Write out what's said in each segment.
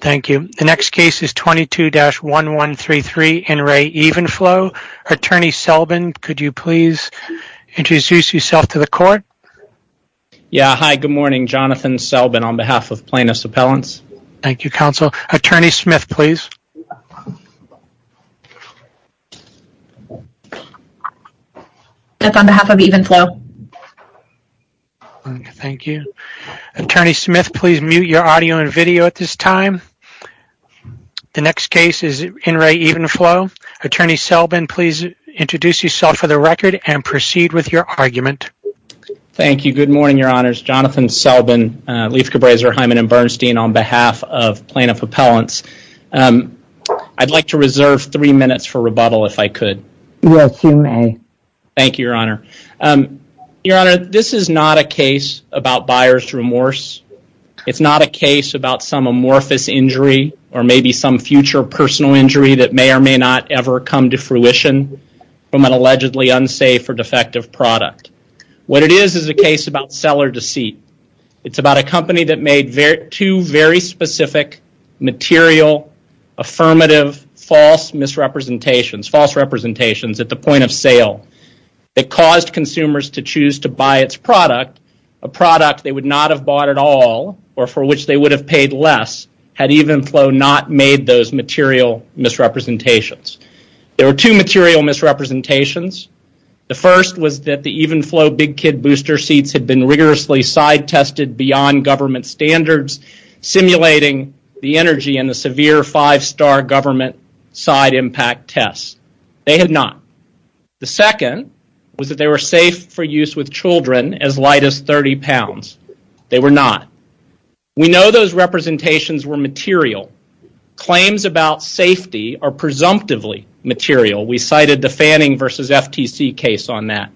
Thank you. The next case is 22-1133 N. Re. Evenflo. Attorney Selbin, could you please introduce yourself to the court? Yeah, hi, good morning. Jonathan Selbin on behalf of Plaintiff's Appellants. Thank you, counsel. Attorney Smith, please. Smith on behalf of Evenflo. Thank you. Attorney Smith, please mute your audio and video at this time. The next case is N. Re. Evenflo. Attorney Selbin, please introduce yourself for the record and proceed with your argument. Thank you. Good morning, Your Honors. Jonathan Selbin, Leif Cabrazer, Hyman & Bernstein on behalf of Plaintiff's Appellants. I'd like to reserve three minutes for rebuttal, if I could. Yes, you may. Thank you, Your Honor. Your Honor, this is not a case about buyer's remorse. It's not a case about some amorphous injury or maybe some future personal injury that may or may not ever come to fruition from an allegedly unsafe or defective product. What it is is a case about seller deceit. It's about a company that made two very specific, material, affirmative, false misrepresentations at the point of sale that caused consumers to choose to buy its product, a product they would not have bought at all or for which they would have paid less, had Evenflo not made those material misrepresentations. There were two material misrepresentations. The first was that the Evenflo Big Kid Booster seats had been rigorously side-tested beyond government standards, simulating the energy and the severe five-star government side impact tests. They had not. The second was that they were safe for use with children as light as 30 pounds. They were not. We know those representations were material. Claims about safety are presumptively material. We cited the Fanning v. FTC case on that.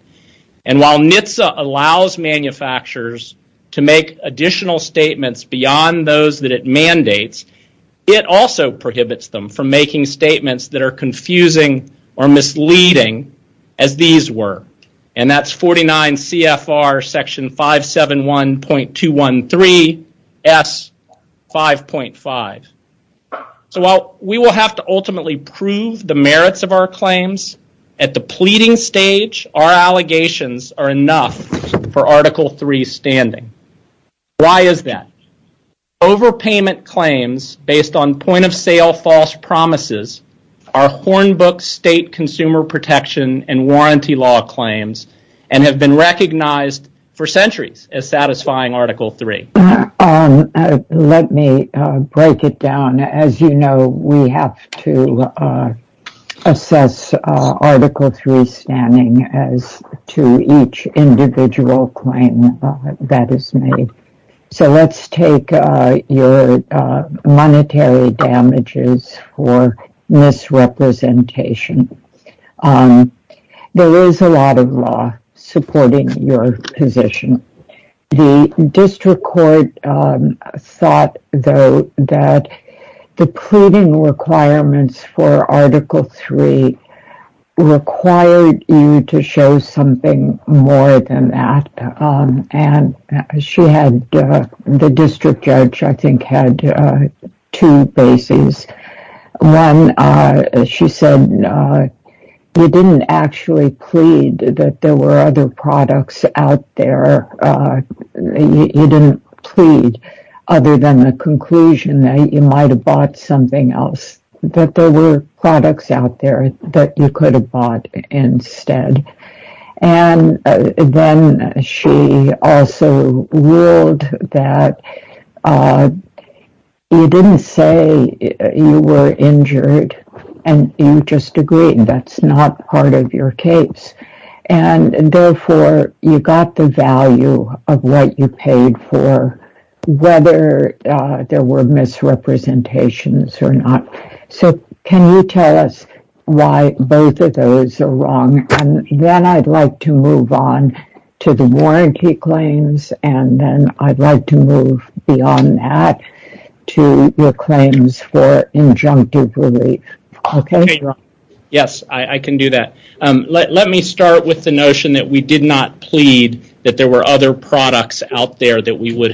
And while NHTSA allows manufacturers to make additional statements beyond those that it also prohibits them from making statements that are confusing or misleading as these were, and that's 49 CFR section 571.213 S. 5.5. So while we will have to ultimately prove the merits of our claims, at the pleading stage, our allegations are enough for Article III standing. Why is that? Overpayment claims based on point-of-sale false promises are Hornbook state consumer protection and warranty law claims and have been recognized for centuries as satisfying Article III. Let me break it down. As you know, we have to assess Article III standing as to each individual claim that is made. So let's take your monetary damages for misrepresentation. There is a lot of law supporting your position. The district court thought, though, that the pleading requirements for Article III required you to show something more than that. And the district judge, I think, had two bases. One, she said, you didn't actually plead that there were other products out there. You didn't plead, other than the conclusion that you might have bought something else, that there were products out there that you could have bought instead. And then she also ruled that you didn't say you were injured and you just agreed that's not part of your case. And therefore, you got the value of what you paid for, whether there were misrepresentations or not. So can you tell us why both of those are wrong? And then I'd like to move on to the warranty claims and then I'd like to move beyond that to your claims for injunctive relief. Yes, I can do that. Let me start with the notion that we did not plead that there were other products out there. We plead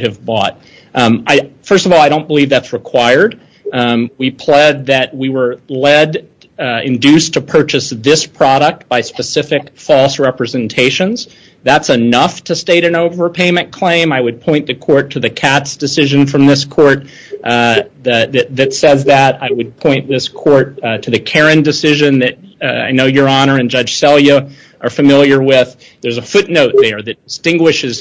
that we were led, induced to purchase this product by specific false representations. That's enough to state an overpayment claim. I would point the court to the Katz decision from this court that says that. I would point this court to the Karen decision that I know Your Honor and Judge Selya are familiar with. There's a footnote there that distinguishes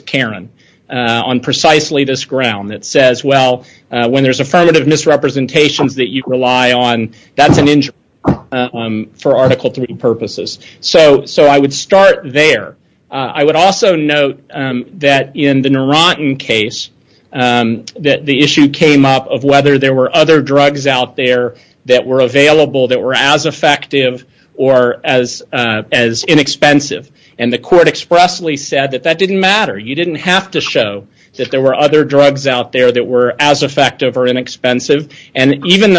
affirmative misrepresentations that you rely on. That's an injury for Article III purposes. So I would start there. I would also note that in the Narantan case, that the issue came up of whether there were other drugs out there that were available that were as effective or as inexpensive. And the court expressly said that that didn't matter. You and even the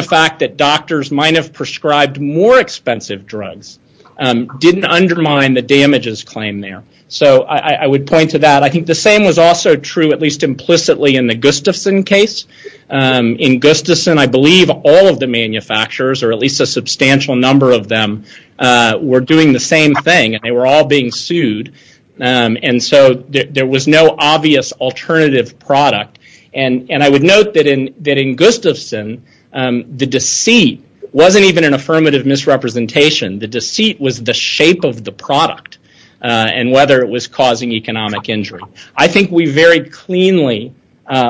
fact that doctors might have prescribed more expensive drugs didn't undermine the damages claim there. So I would point to that. I think the same was also true at least implicitly in the Gustafson case. In Gustafson, I believe all of the manufacturers or at least a substantial number of them were doing the same thing. They were all being sued and so there was no obvious alternative product. I would note that in Gustafson, the deceit wasn't even an affirmative misrepresentation. The deceit was the shape of the product and whether it was causing economic injury. I think we very cleanly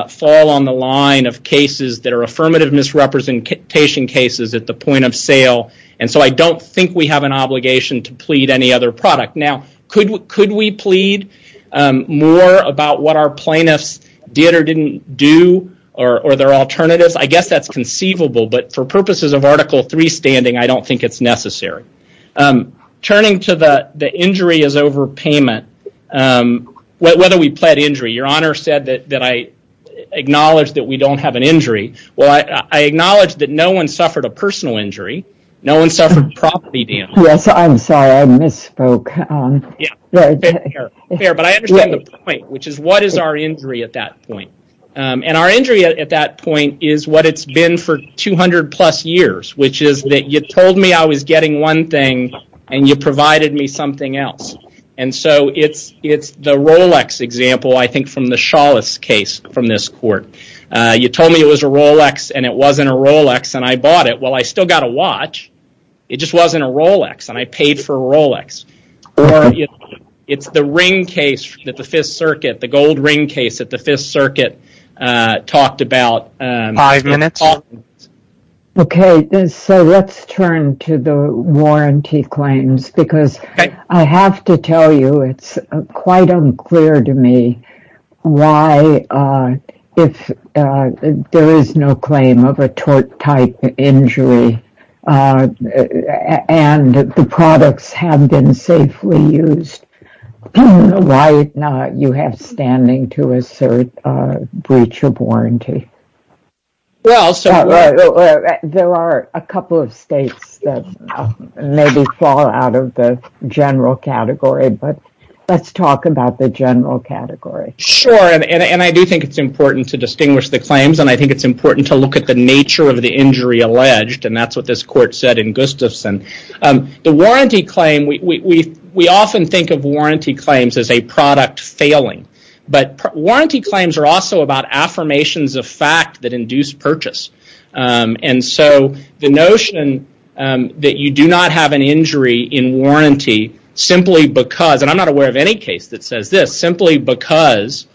fall on the line of cases that are affirmative misrepresentation cases at the point of sale and so I don't think we have an obligation to plead any other product. Now, could we plead more about what our plaintiffs did or didn't do or their alternatives? I guess that's conceivable, but for purposes of Article III standing, I don't think it's necessary. Turning to the injury as overpayment, whether we pled injury. Your Honor said that I acknowledge that we don't have an injury. No one suffered property damage. I understand the point, which is what is our injury at that point? Our injury at that point is what it's been for 200 plus years, which is that you told me I was getting one thing and you provided me something else. It's the Rolex example, I think, from the Shawless case from this court. You told me it was a Rolex and it wasn't a Rolex and I bought it. Well, I still got a watch. It just wasn't a Rolex and I paid for a Rolex. It's the gold ring case that the Fifth Circuit talked about. Let's turn to the warranty claims because I have to tell you it's quite unclear to me why, if there is no claim of a tort type injury and the products have been safely used, why not you have standing to assert a breach of warranty? There are a couple of states that maybe fall out of the general category, but let's talk about the general category. I do think it's important to distinguish the claims and I think it's important to look at the nature of the injury alleged and that's what this court said in Gustafson. We often think of warranty claims as a product failing, but warranty claims are also about affirmations of fact that induce purchase. The notion that you are not aware of any case that says this simply because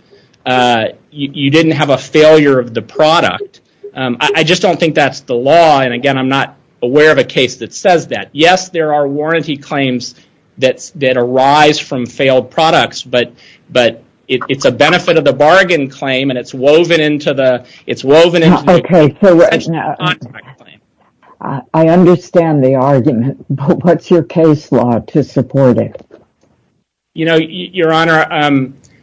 you didn't have a failure of the product, I just don't think that's the law and again, I'm not aware of a case that says that. Yes, there are warranty claims that arise from failed products, but it's a benefit of the bargain claim and it's woven into the contract claim. I understand the argument, but what's your case law to support it? Your Honor,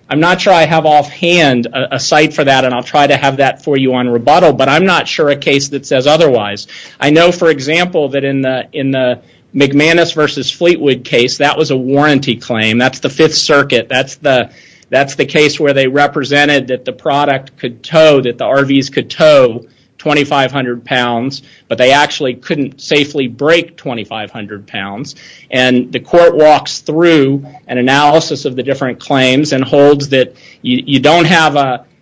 I'm not sure I have offhand a site for that and I'll try to have that for you on rebuttal, but I'm not sure a case that says otherwise. I know, for example, that in the McManus versus Fleetwood case, that was a warranty claim. That's the Fifth Circuit. That's the case where they represented that the product could tow, that the RVs could tow 2,500 pounds, but they actually couldn't safely break 2,500 pounds and the court walks through an analysis of the different claims and holds that you don't have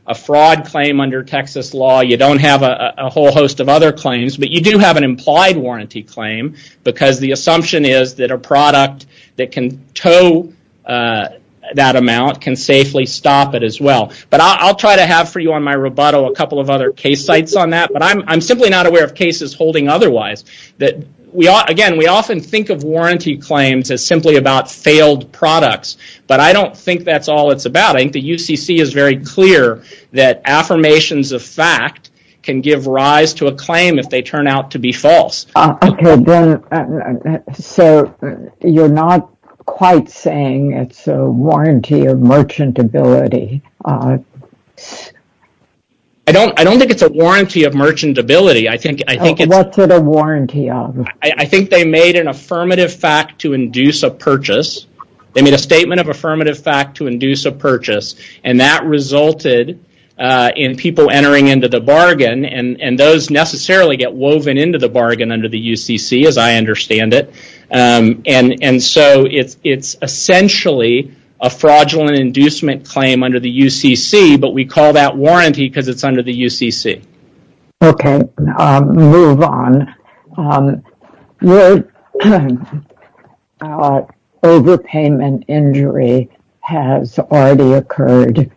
a fraud claim under Texas law. You don't have a whole host of other claims, but you do have an implied warranty claim because the assumption is that a product that can tow that amount can safely stop it as well, but I'll try have for you on my rebuttal a couple of other case sites on that, but I'm simply not aware of cases holding otherwise. Again, we often think of warranty claims as simply about failed products, but I don't think that's all it's about. I think the UCC is very clear that affirmations of fact can give rise to a claim if they turn out to be false. Okay, so you're not quite saying it's a I don't think it's a warranty of merchantability. What's it a warranty of? I think they made an affirmative fact to induce a purchase. They made a statement of affirmative fact to induce a purchase, and that resulted in people entering into the bargain, and those necessarily get woven into the bargain under the UCC as I understand it, and so it's essentially a fraudulent inducement claim under the UCC, but we call that warranty because it's under the UCC. Okay, move on. Overpayment injury has already occurred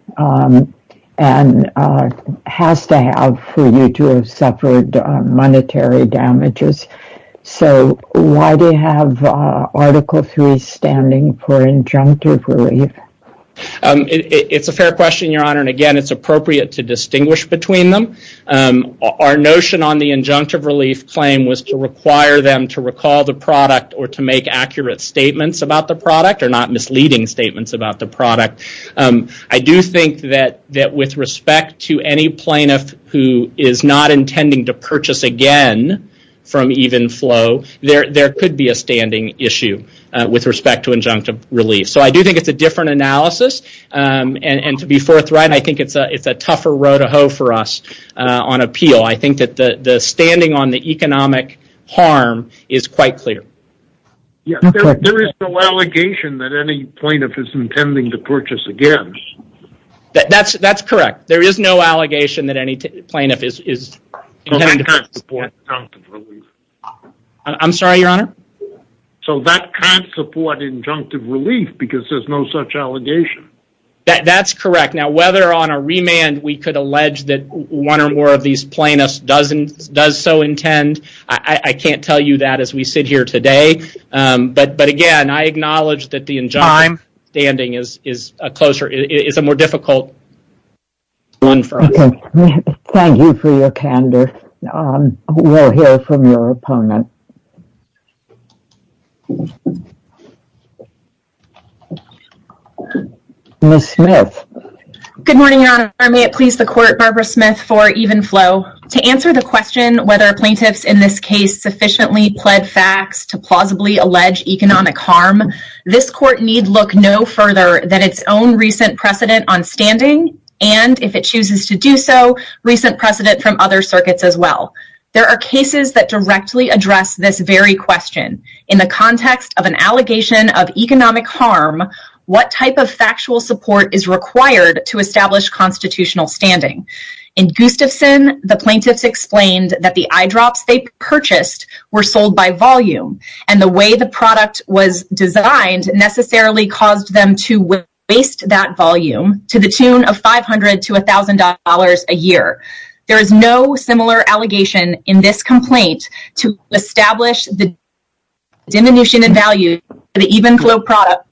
and has to have for you to have suffered monetary damages, so why do you have Article 3 standing for injunctive relief? It's a fair question, Your Honor, and again, it's appropriate to distinguish between them. Our notion on the injunctive relief claim was to require them to recall the product or to make accurate statements about the product or not misleading statements about the product. I do think that with respect to any plaintiff who is not intending to purchase again from Evenflo, there could be a standing issue with respect to injunctive relief, so I do think it's a different analysis, and to be forthright, I think it's a tougher road to hoe for us on appeal. I think that the standing on the economic harm is quite clear. There is no allegation that any plaintiff is intending to purchase again. That's correct. There is no allegation that any plaintiff is intending to purchase. That can't support injunctive relief because there's no such allegation. That's correct. Now, whether on a remand we could allege that one or more of these plaintiffs does so intend, I can't tell you that as we sit here today, but again, I acknowledge that the injunctive standing is a more difficult one for us. Thank you for your candor. We'll hear from your opponent. Ms. Smith. Good morning, Your Honor. May it please the Court, Barbara Smith, for Evenflo. To answer the question whether plaintiffs in this case sufficiently pled facts to plausibly allege economic harm, this Court need look no further than its own recent precedent on standing, and if it chooses to do so, recent precedent from other circuits as well. There are cases that directly address this very question. In the context of an allegation of economic harm, what type of factual support is required to establish constitutional standing? In Gustafson, the plaintiffs explained that the eyedrops they purchased were sold by volume, and the way the product was designed necessarily caused them to waste that volume to the tune of $500 to $1,000 a year. There is no similar allegation in this complaint to establish the diminution in value for the Evenflo product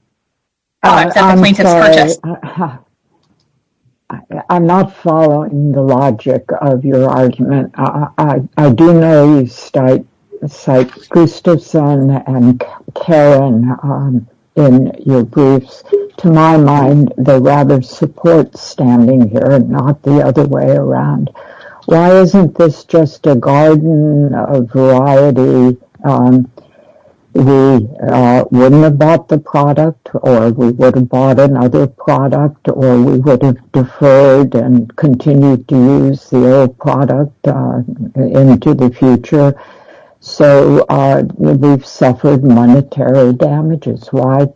that the plaintiffs purchased. I'm sorry. I'm not following the logic of your argument. I do know you cite Gustafson and Karen in your briefs. To my mind, they rather support standing here and not the other way around. Why isn't this just a garden of variety? We wouldn't have bought the product, or we would have bought another product, or we would have deferred and continued to use the old product into the future, so we've suffered monetary damages. Why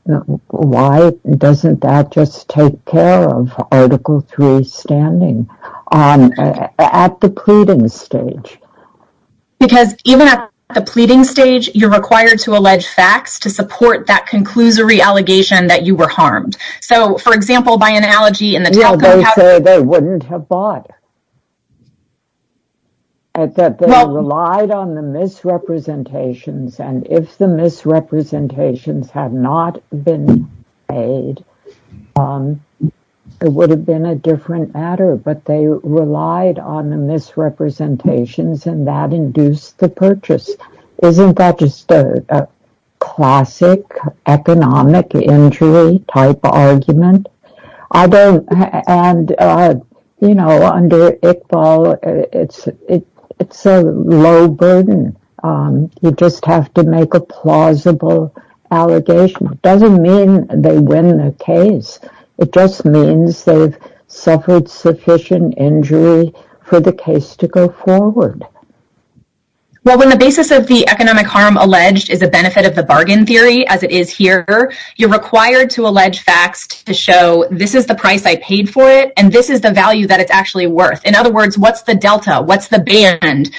doesn't that just take care of Article 3 standing on at the pleading stage? Because even at the pleading stage, you're required to allege facts to support that conclusory allegation that you were harmed. So, for example, by analogy, in the Talco... Well, they say they wouldn't have bought it. That they relied on the misrepresentations, and if the misrepresentations had not been made, it would have been a different matter, but they relied on the misrepresentations, and that induced the purchase. Isn't that just a classic economic injury-type argument? I don't... And, you know, under Iqbal, it's a low burden. You just have to make a plausible allegation. It doesn't mean they win the case. It just means they've suffered sufficient injury for the case to go forward. Well, when the basis of the economic harm alleged is a benefit of the bargain theory, as it is here, you're required to allege facts to show this is the price I paid for it, and this is the value that it's actually worth. In other words, what's the delta? What's the band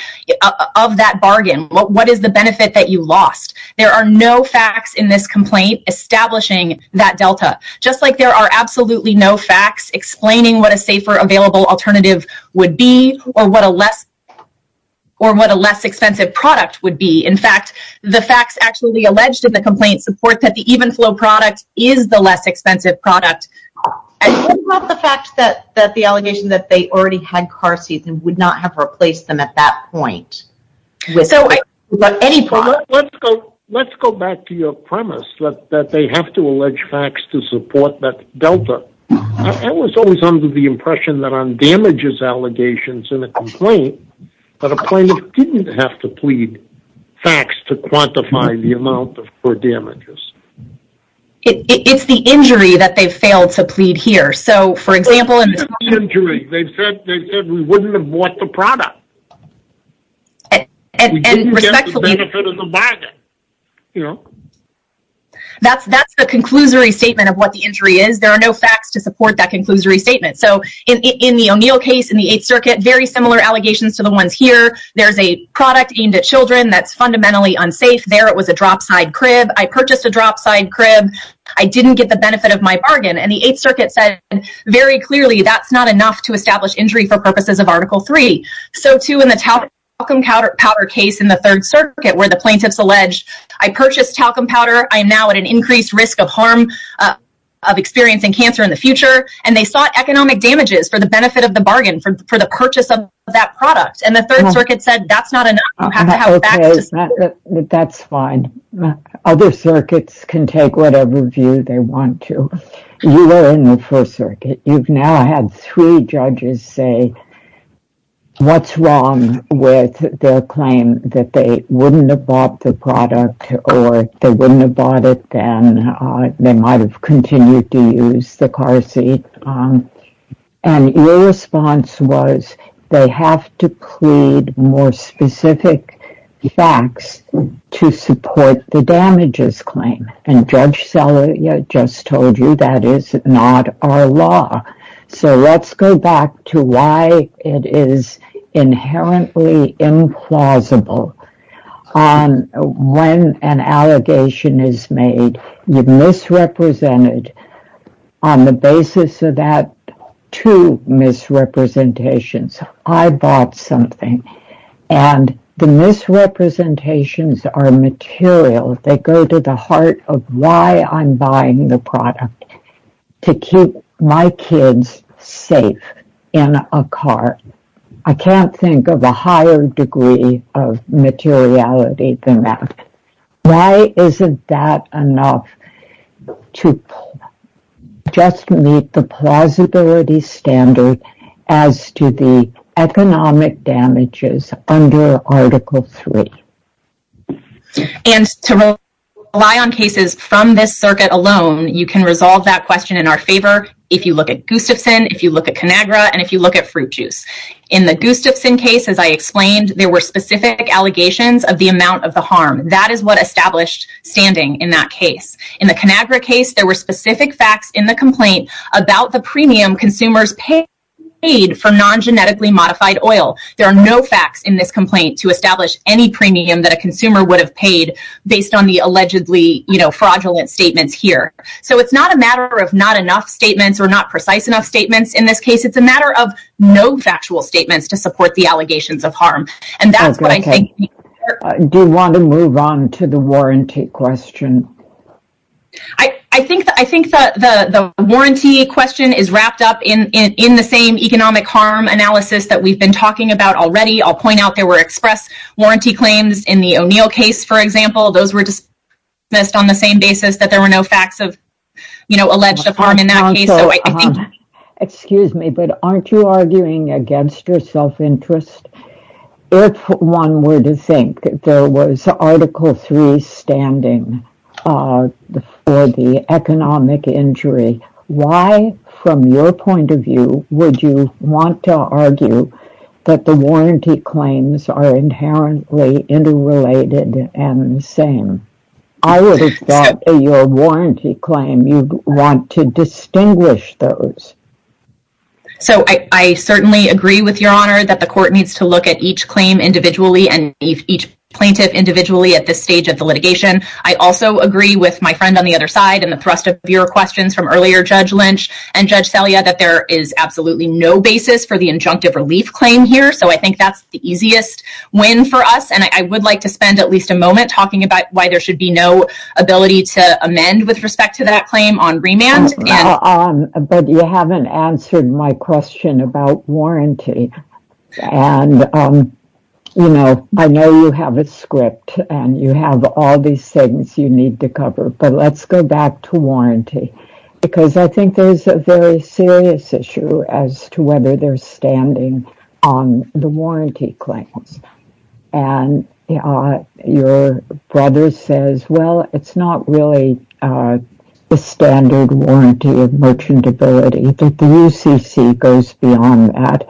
of that bargain? What is the benefit that you lost? There are no facts in this complaint establishing that delta, just like there are absolutely no facts explaining what a safer available alternative would be or what a less expensive product would be. In fact, the facts actually alleged in the complaint support that the Evenflo product is the less expensive product. And what about the fact that the allegation that they already had car seats and would not have replaced them at that point? Let's go back to your premise that they have to allege facts to support that delta. I was always under the impression that on damages allegations in a complaint, that a plaintiff didn't have to plead facts to quantify the amount of damages. It's the injury that they failed to plead here. For example, they've said we wouldn't have bought the product. That's the conclusory statement of what the injury is. There are no facts to support that conclusory statement. In the O'Neill case in the Eighth Circuit, very similar allegations to the ones here. There's a product aimed at children that's fundamentally unsafe. There it was a drop side crib. I purchased a drop side crib. I didn't get the benefit of my bargain. And the Eighth Circuit said, very clearly, that's not enough to establish injury for purposes of Article 3. So too in the talcum powder case in the Third Circuit, where the plaintiffs allege, I purchased talcum powder. I am now at an increased risk of harm of experiencing cancer in the future. And they sought economic damages for the benefit of the bargain for the purchase of that product. And the Third Circuit said, that's not enough. You have to have facts to support that. That's fine. Other circuits can take whatever view they want to. You were in the First Circuit. You've now had three judges say, what's wrong with their claim that they wouldn't have bought the product, or they wouldn't have bought it then. They might have continued to use the car seat. And your response was, they have to plead more specific facts to support the damages claim. And Judge Celia just told you, that is not our law. So let's go back to why it is inherently implausible. When an allegation is made, you've misrepresented on the basis of that two misrepresentations. I bought something. And the misrepresentations are material. They go to the heart of why I'm buying the product. To keep my kids safe in a car. I can't think of a higher degree of materiality than that. Why isn't that enough to just meet the plausibility standard as to the economic damages under Article 3? And to rely on cases from this circuit alone, you can resolve that question in our favor if you look at Gustafson, if you look at Conagra, and if you look at Fruit Juice. In the Gustafson case, as I explained, there were specific allegations of the amount of the harm. That is what established standing in that case. In the Conagra case, there were specific facts in the complaint about the premium consumers paid for non-genetically modified oil. There are no facts in this complaint to establish any premium that a consumer would have paid based on the allegedly fraudulent statements here. So it's not a matter of not enough statements or not precise enough statements in this case. It's a matter of no factual statements to support the allegations of harm. And that's what I think. Do you want to move on to the warranty question? I think the warranty question is wrapped up in the same economic harm analysis that we've been talking about already. I'll point out there were express warranty claims in the O'Neill case, for example. Those were dismissed on the same basis that there were no facts of alleged harm in that case. Excuse me, but aren't you arguing against your self-interest? If one were to think there was Article 3 standing for the economic injury, why, from your point of view, would you want to argue that the warranty claims are inherently interrelated and the same? I would have thought your warranty claim, you want to that the court needs to look at each claim individually and each plaintiff individually at this stage of the litigation. I also agree with my friend on the other side and the thrust of your questions from earlier, Judge Lynch and Judge Selya, that there is absolutely no basis for the injunctive relief claim here. So I think that's the easiest win for us. And I would like to spend at least a moment talking about why there should be no ability to amend with respect to that And, you know, I know you have a script and you have all these things you need to cover, but let's go back to warranty, because I think there's a very serious issue as to whether they're standing on the warranty claims. And your brother says, well, it's not really the standard warranty of merchantability. The UCC goes beyond that.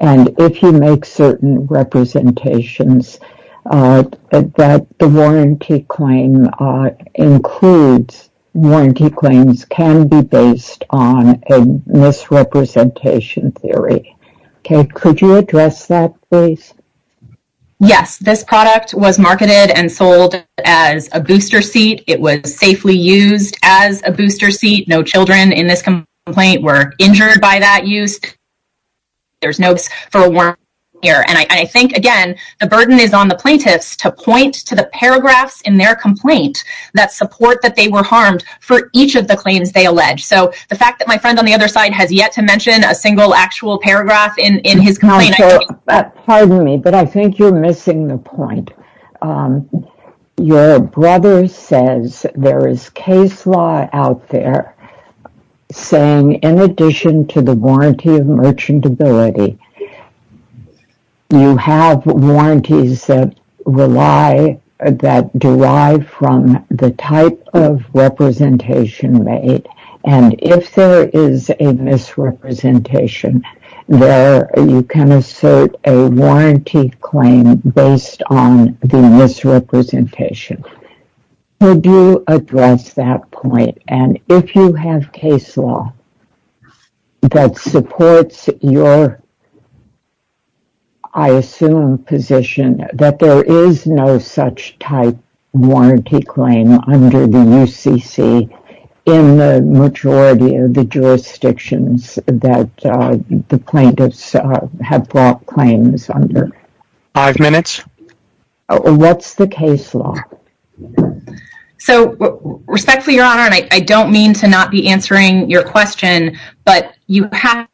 And if you make certain representations that the warranty claim includes, warranty claims can be based on a misrepresentation theory. Kate, could you address that, please? Yes, this product was as a booster seat. No children in this complaint were injured by that use. There's no for a warrant here. And I think, again, the burden is on the plaintiffs to point to the paragraphs in their complaint that support that they were harmed for each of the claims they allege. So the fact that my friend on the other side has yet to mention a single actual paragraph in his complaint. Pardon me, but I think you're missing the point. Your brother says there is case law out there saying in addition to the warranty of merchantability, you have warranties that rely, that derive from the type of representation made. And if there is a misrepresentation there, you can assert a warranty claim based on the misrepresentation. Could you address that point? And if you have case law that supports your, I assume, position that there is no such type warranty claim under the UCC in the majority of the jurisdictions that the plaintiffs have brought claims under. Five minutes. Oh, what's the case law? So respectfully, Your Honor, and I don't mean to not be answering your question, but you have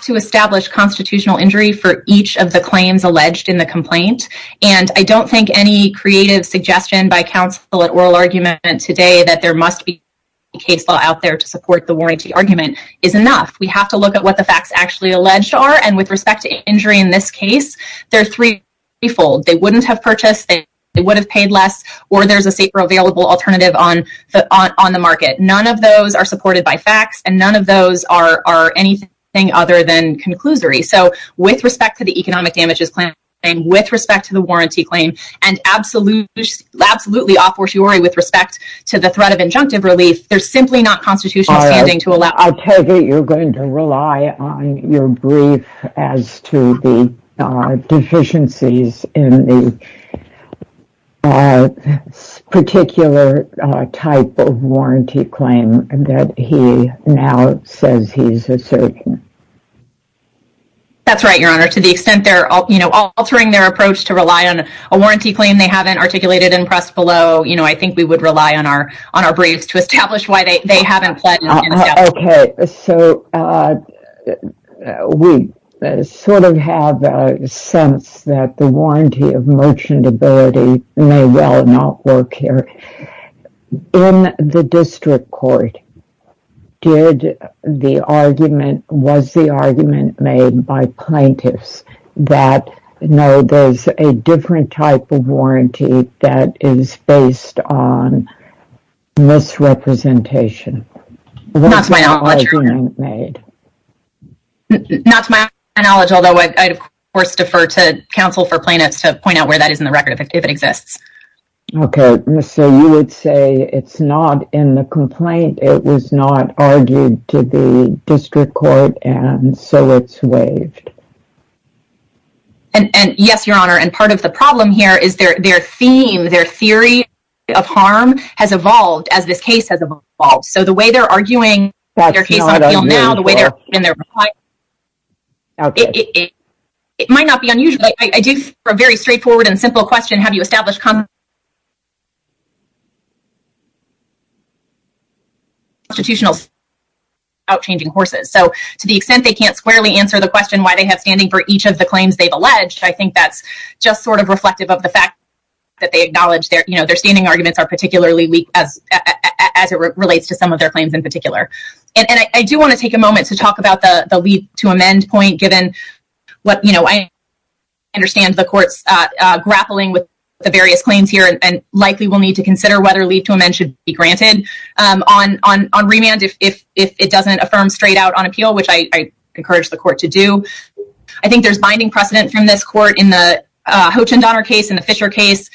to establish constitutional injury for each of the claims alleged in the complaint. And I don't think any creative suggestion by counsel at oral argument today that there must be a case law out there to support the warranty argument is enough. We have to look at what the facts actually alleged are. And with respect to this case, they're threefold. They wouldn't have purchased, they would have paid less, or there's a safer available alternative on the market. None of those are supported by facts, and none of those are anything other than conclusory. So with respect to the economic damages claim, and with respect to the warranty claim, and absolutely, absolutely, a fortiori with respect to the threat of injunctive relief, they're simply not deficiencies in the particular type of warranty claim that he now says he's asserting. That's right, Your Honor. To the extent they're, you know, altering their approach to rely on a warranty claim they haven't articulated and pressed below, you know, I think we would rely on our briefs to establish why they haven't pledged. Okay, so we sort of have a sense that the warranty of merchantability may well not work here. In the district court, did the argument, was the argument made by plaintiffs that, no, there's a different type of warranty that is based on misrepresentation? Not to my knowledge, although I'd of course defer to counsel for plaintiffs to point out where that is in the record, if it exists. Okay, so you would say it's not in the complaint, it was not argued to the district court, and so it's waived. And, yes, Your Honor, and part of the problem here is their theme, their theory of harm has evolved as this case has evolved. So the way they're arguing now, the way they're in their reply, it might not be unusual. I do have a very straightforward and simple question. Have you established constitutional outchanging courses? So to the extent they can't squarely answer the question why they have standing for each of the claims they've alleged, I think that's just sort of reflective of the fact that they acknowledge their, you know, their standing arguments are particularly weak as it relates to some of their claims in particular. And I do want to take a moment to talk about the leave to amend point, given what, you know, I understand the court's grappling with the various claims here and likely will need to consider whether leave to amend should be granted. On remand, if it doesn't affirm straight out on appeal, which I encourage the court to do, I think there's binding precedent from this court in the Hoach and Donner case, in the Fisher case,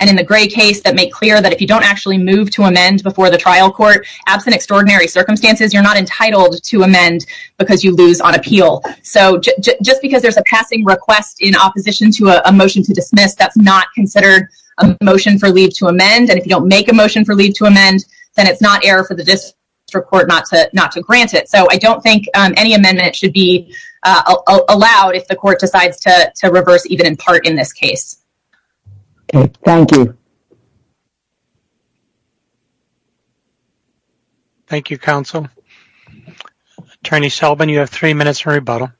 and in the Gray case that make clear that if you don't actually move to amend before the trial court, absent extraordinary circumstances, you're not entitled to amend because you lose on appeal. So just because there's a passing request in opposition to a motion to dismiss, that's not considered a motion for leave to amend. And if you don't make a motion for leave to amend, then it's not error for the district court not to not to grant it. So I don't think any amendment should be allowed if the court decides to reverse even in part in this case. Thank you. Thank you, counsel. Attorney Sullivan, you have three minutes for rebuttal.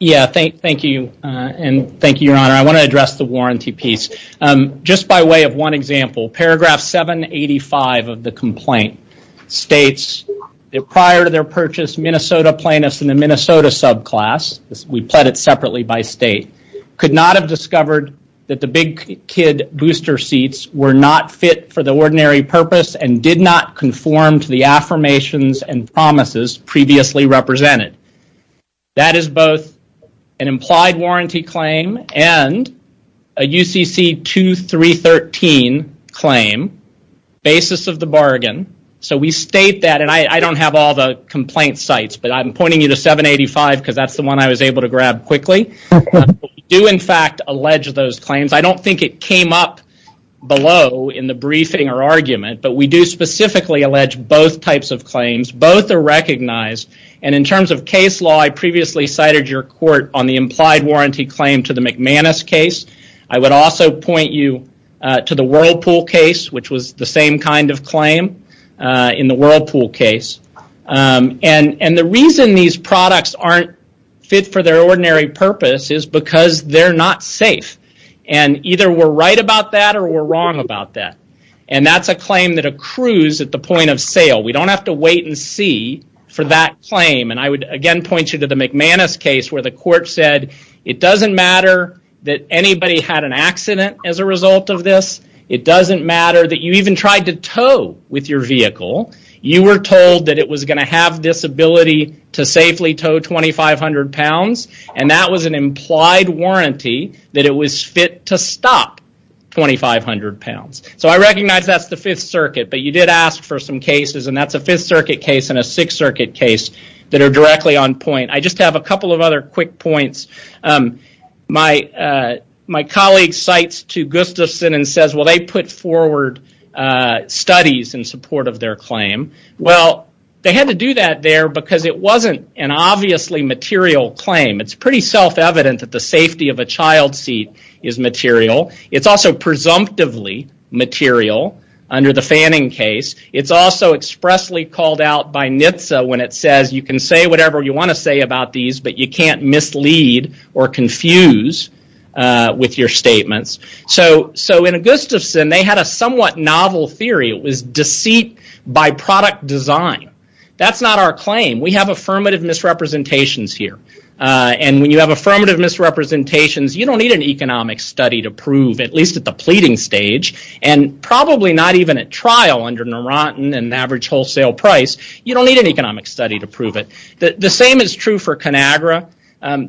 Yeah, thank you. And thank you, Your Honor. I want to address the warranty piece. Just by way of one example, paragraph 785 of the complaint states that prior to their purchase, Minnesota plaintiffs in the Minnesota subclass, we pled it separately by state, could not have discovered that the Big Kid booster seats were not fit for the ordinary purpose and did not conform to the affirmations and promises previously represented. That is both an implied warranty claim and a UCC 2313 claim, basis of the bargain. So we state that, and I don't have all the complaint sites, but I'm pointing you to 785 because that's the one I was able to grab quickly. We do in fact allege those claims. I don't think it came up below in the briefing or argument, but we do specifically allege both types of claims. Both are recognized, and in terms of case law, I previously cited your court on the implied warranty claim to the McManus case. I would also point you to the Whirlpool case, which was the same kind of claim in the Whirlpool case. And the reason these products aren't fit for their ordinary purpose is because they're not safe. And either we're right about that or we're wrong about that. And that's a claim that accrues at the point of sale. We don't have to wait and see for that claim. And I would again point you to the McManus case where the court said it doesn't matter that anybody had an accident as a result of this. It doesn't matter that you even tried to tow with your vehicle. You were told that it was going to have this ability to safely tow 2,500 pounds, and that was an implied warranty that it was fit to stop 2,500 pounds. So I recognize that's the Fifth Circuit, but you did ask for some cases, and that's a Fifth Circuit case and a Sixth Circuit case that are directly on point. I just have a couple of other quick points. My colleague cites to Gustafson and says, they put forward studies in support of their claim. Well, they had to do that there because it wasn't an obviously material claim. It's pretty self-evident that the safety of a child seat is material. It's also presumptively material under the Fanning case. It's also expressly called out by NHTSA when it says you can say whatever you want to say about these, but you can't mislead or confuse with your statements. So in Gustafson, they had a somewhat novel theory. It was deceit by product design. That's not our claim. We have affirmative misrepresentations here, and when you have affirmative misrepresentations, you don't need an economic study to prove, at least at the pleading stage, and probably not even at trial under Neurontin and average wholesale price. You don't need an economic study to prove it. The same is true for ConAgra.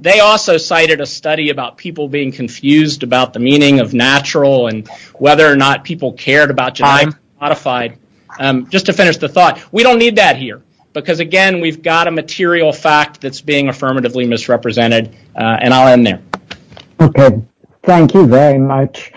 They also cited a study about people being confused about the meaning of natural and whether or not people cared about genetically modified. Just to finish the thought, we don't need that here because, again, we've got a material fact that's being affirmatively misrepresented, and I'll end there. Okay. Thank you very much.